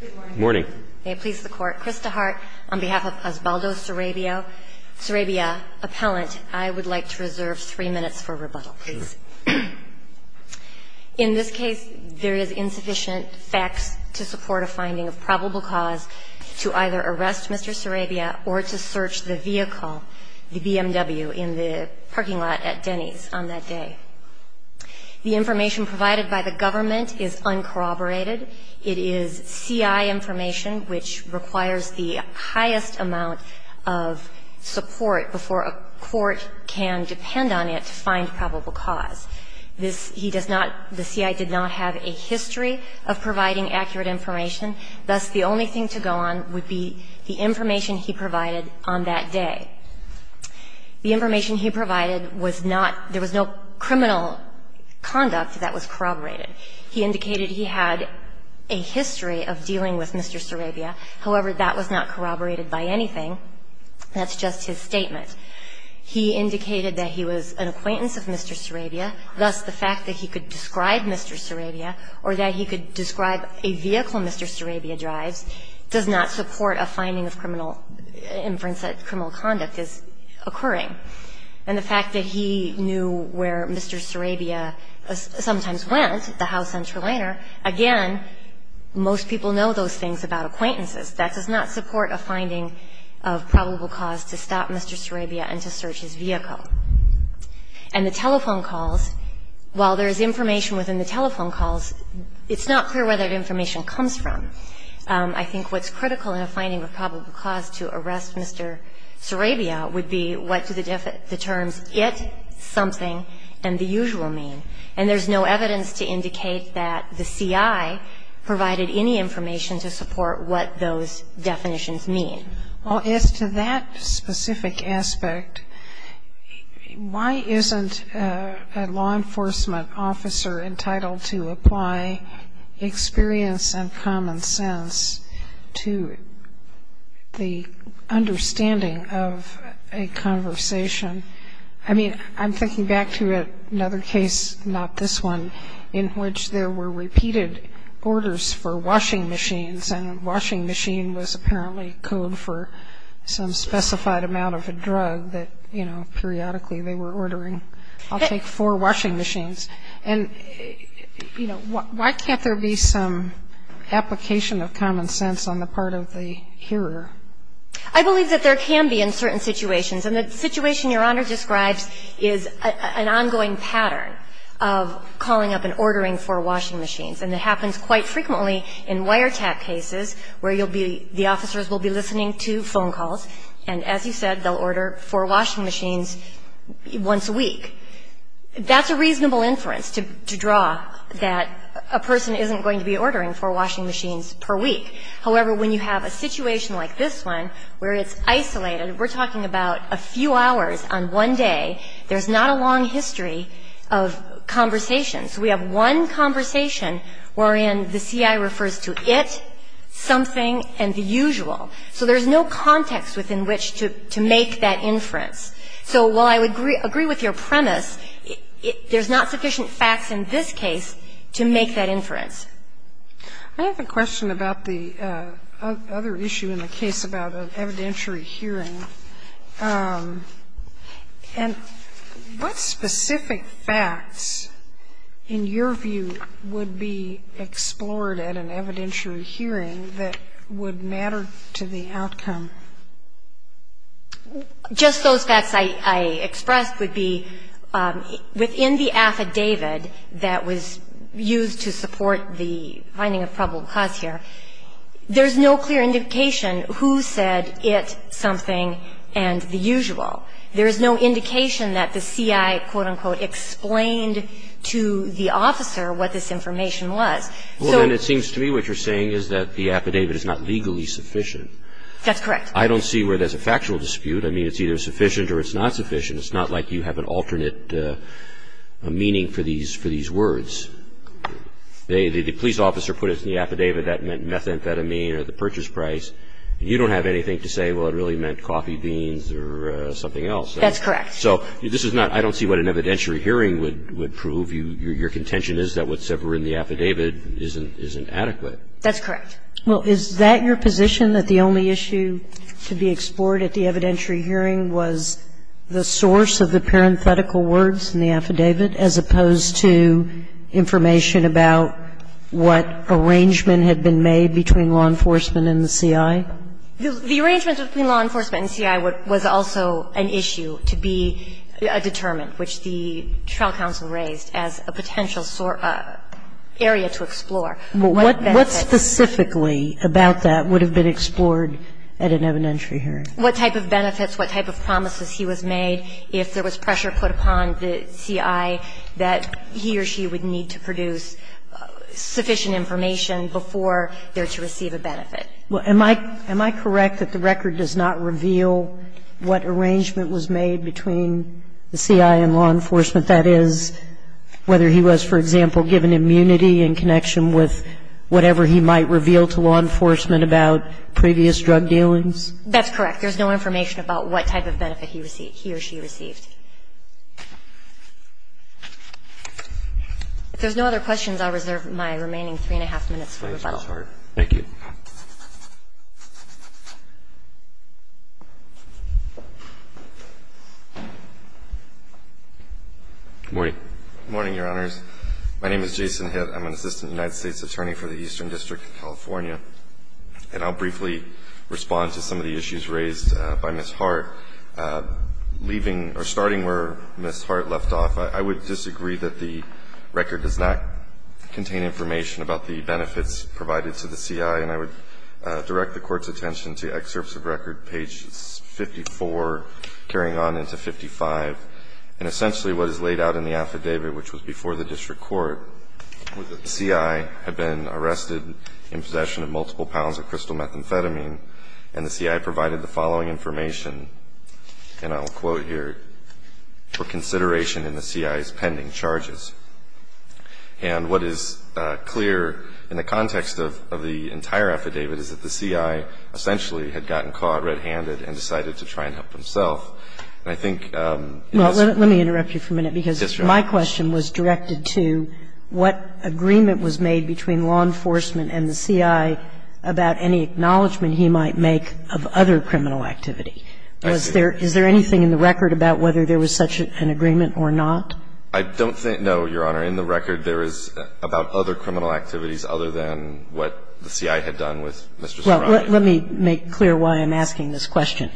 Good morning. May it please the court. Chris Dehart on behalf of Osvaldo Sarabia, Sarabia appellant. I would like to reserve three minutes for rebuttal, please. In this case, there is insufficient facts to support a finding of probable cause to either arrest Mr. Sarabia or to search the vehicle, the BMW, in the parking lot at Denny's on that day. The information provided by the government is uncorroborated. It is CI information, which requires the highest amount of support before a court can depend on it to find probable cause. This, he does not, the CI did not have a history of providing accurate information. Thus, the only thing to go on would be the information he provided on that day. The information he provided was not, there was no criminal conduct that was corroborated. He indicated he had a history of dealing with Mr. Sarabia. However, that was not corroborated by anything. That's just his statement. He indicated that he was an acquaintance of Mr. Sarabia. Thus, the fact that he could describe Mr. Sarabia or that he could describe a vehicle Mr. Sarabia drives does not support a finding of criminal inference that criminal conduct is occurring. And the fact that he knew where Mr. Sarabia sometimes went, the house on Trelator, again, most people know those things about acquaintances. That does not support a finding of probable cause to stop Mr. Sarabia and to search his vehicle. And the telephone calls, while there is information within the telephone calls, it's not clear where that information comes from. I think what's critical in a finding of probable cause to arrest Mr. Sarabia would be what do the terms it, something, and the usual mean. And there's no evidence to indicate that the CI provided any information to support what those definitions mean. Well, as to that specific aspect, why isn't a law enforcement officer entitled to apply experience and common sense to the understanding of a conversation? I mean, I'm thinking back to another case, not this one, in which there were repeated orders for washing machines. And a washing machine was apparently code for some specified amount of a drug that, you know, periodically they were ordering. I'll take four washing machines. And, you know, why can't there be some application of common sense on the part of the hearer? I believe that there can be in certain situations. And the situation Your Honor describes is an ongoing pattern of calling up and ordering four washing machines. And it happens quite frequently in wiretap cases where you'll be, the officers will be listening to phone calls. And as you said, they'll order four washing machines once a week. That's a reasonable inference to draw that a person isn't going to be ordering four washing machines per week. However, when you have a situation like this one where it's isolated, we're talking about a few hours on one day. There's not a long history of conversations. We have one conversation wherein the CI refers to it, something, and the usual. So there's no context within which to make that inference. So while I would agree with your premise, there's not sufficient facts in this case to make that inference. Sotomayor I have a question about the other issue in the case about evidentiary hearing. And what specific facts in your view would be explored at an evidentiary hearing that would matter to the outcome? Just those facts I expressed would be within the affidavit that was used to support the finding of probable cause here, there's no clear indication who said it, something, and the usual. There's no indication that the CI, quote, unquote, explained to the officer what this information was. Well, then it seems to me what you're saying is that the affidavit is not legally sufficient. That's correct. I don't see where there's a factual dispute. I mean, it's either sufficient or it's not sufficient. It's not like you have an alternate meaning for these words. The police officer put it in the affidavit that meant methamphetamine or the purchase price. You don't have anything to say, well, it really meant coffee beans or something else. That's correct. So this is not – I don't see what an evidentiary hearing would prove. Your contention is that what's ever in the affidavit isn't adequate. That's correct. Well, is that your position, that the only issue to be explored at the evidentiary hearing was the source of the parenthetical words in the affidavit, as opposed to information about what arrangement had been made between law enforcement and the CI? The arrangement between law enforcement and the CI was also an issue to be determined, which the trial counsel raised as a potential area to explore. What benefits? What specifically about that would have been explored at an evidentiary hearing? What type of benefits, what type of promises he was made if there was pressure put upon the CI that he or she would need to produce sufficient information before they're to receive a benefit? Well, am I correct that the record does not reveal what arrangement was made between the CI and law enforcement? That is, whether he was, for example, given immunity in connection with whatever he might reveal to law enforcement about previous drug dealings? That's correct. There's no information about what type of benefit he or she received. If there's no other questions, I'll reserve my remaining three and a half minutes for rebuttal. Thank you. Good morning. Good morning, Your Honors. My name is Jason Hitt. I'm an assistant United States attorney for the Eastern District of California. And I'll briefly respond to some of the issues raised by Ms. Hart. Leaving or starting where Ms. Hart left off, I would disagree that the record does not contain information about the benefits provided to the CI. And I would direct the Court's attention to excerpts of record, page 54, carrying on into 55. And essentially what is laid out in the affidavit, which was before the district court, was that the CI had been arrested in possession of multiple pounds of crystal methamphetamine. And the CI provided the following information, and I'll quote here, for consideration in the CI's pending charges. And what is clear in the context of the entire affidavit is that the CI essentially had gotten caught red-handed and decided to try and help himself. I don't think there is any evidence in the record as to what agreement was made between law enforcement and the CI about any acknowledgement he might make of other criminal activity. Is there anything in the record about whether there was such an agreement or not? I don't think so, Your Honor. In the record, there is about other criminal activities other than what the CI had done with Mr. Sorano. Well, let me make clear why I'm asking this question.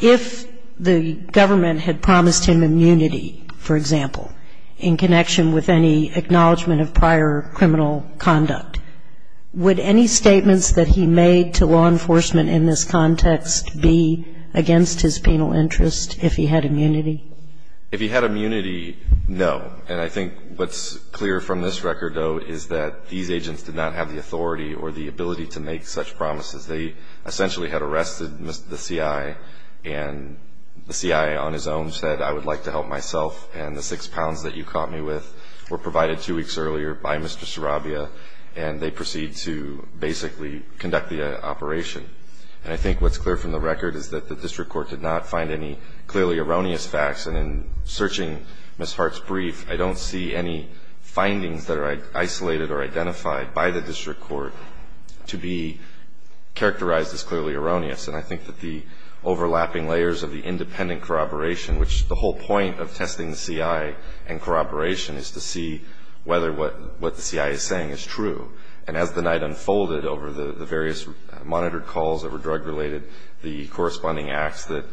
If the government had promised him immunity, for example, in connection with any acknowledgement of prior criminal conduct, would any statements that he made to law enforcement in this context be against his penal interest if he had immunity? If he had immunity, no. And I think what's clear from this record, though, is that these agents did not have the authority or the ability to make such promises. They essentially had arrested the CI, and the CI on his own said, I would like to help myself. And the six pounds that you caught me with were provided two weeks earlier by Mr. Sarabia, and they proceed to basically conduct the operation. And I think what's clear from the record is that the district court did not find any clearly erroneous facts. And in searching Ms. Hart's brief, I don't see any findings that are isolated or identified by the district court to be characterized as clearly erroneous. And I think that the overlapping layers of the independent corroboration, which the whole point of testing the CI and corroboration is to see whether what the CI is saying is true. And as the night unfolded over the various monitored calls that were drug-related, the corresponding acts that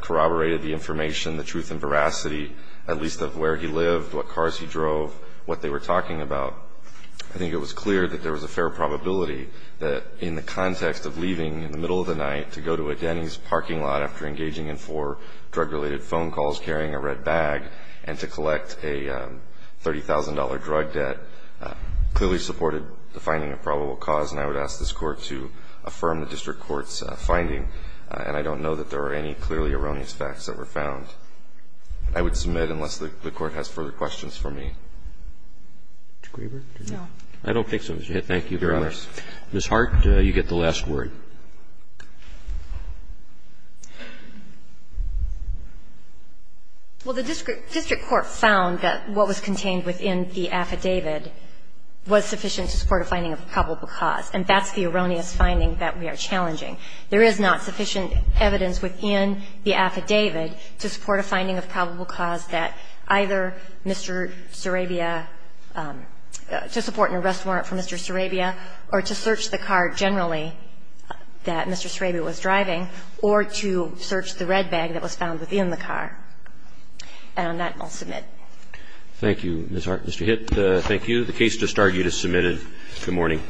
corroborated the information, the truth and veracity at least of where he lived, what cars he drove, what they were talking about, I think it was clear that there was a fair probability that in the context of leaving in the middle of the night to go to a Denny's parking lot after engaging in four drug-related phone calls, carrying a red bag, and to collect a $30,000 drug debt clearly supported the finding of probable cause. And I would ask this Court to affirm the district court's finding. And I don't know that there are any clearly erroneous facts that were found. I would submit, unless the Court has further questions for me. Roberts. Ms. Hart, you get the last word. Hart. Well, the district court found that what was contained within the affidavit was sufficient to support a finding of probable cause. And that's the erroneous finding that we are challenging. There is not sufficient evidence within the affidavit to support a finding of probable cause that either Mr. Sarabia to support an arrest warrant for Mr. Sarabia or to search the car generally that Mr. Sarabia was driving or to search the red bag that was found within the car. And on that, I'll submit. Thank you, Ms. Hart. Mr. Hitt, thank you. The case just argued is submitted. Good morning.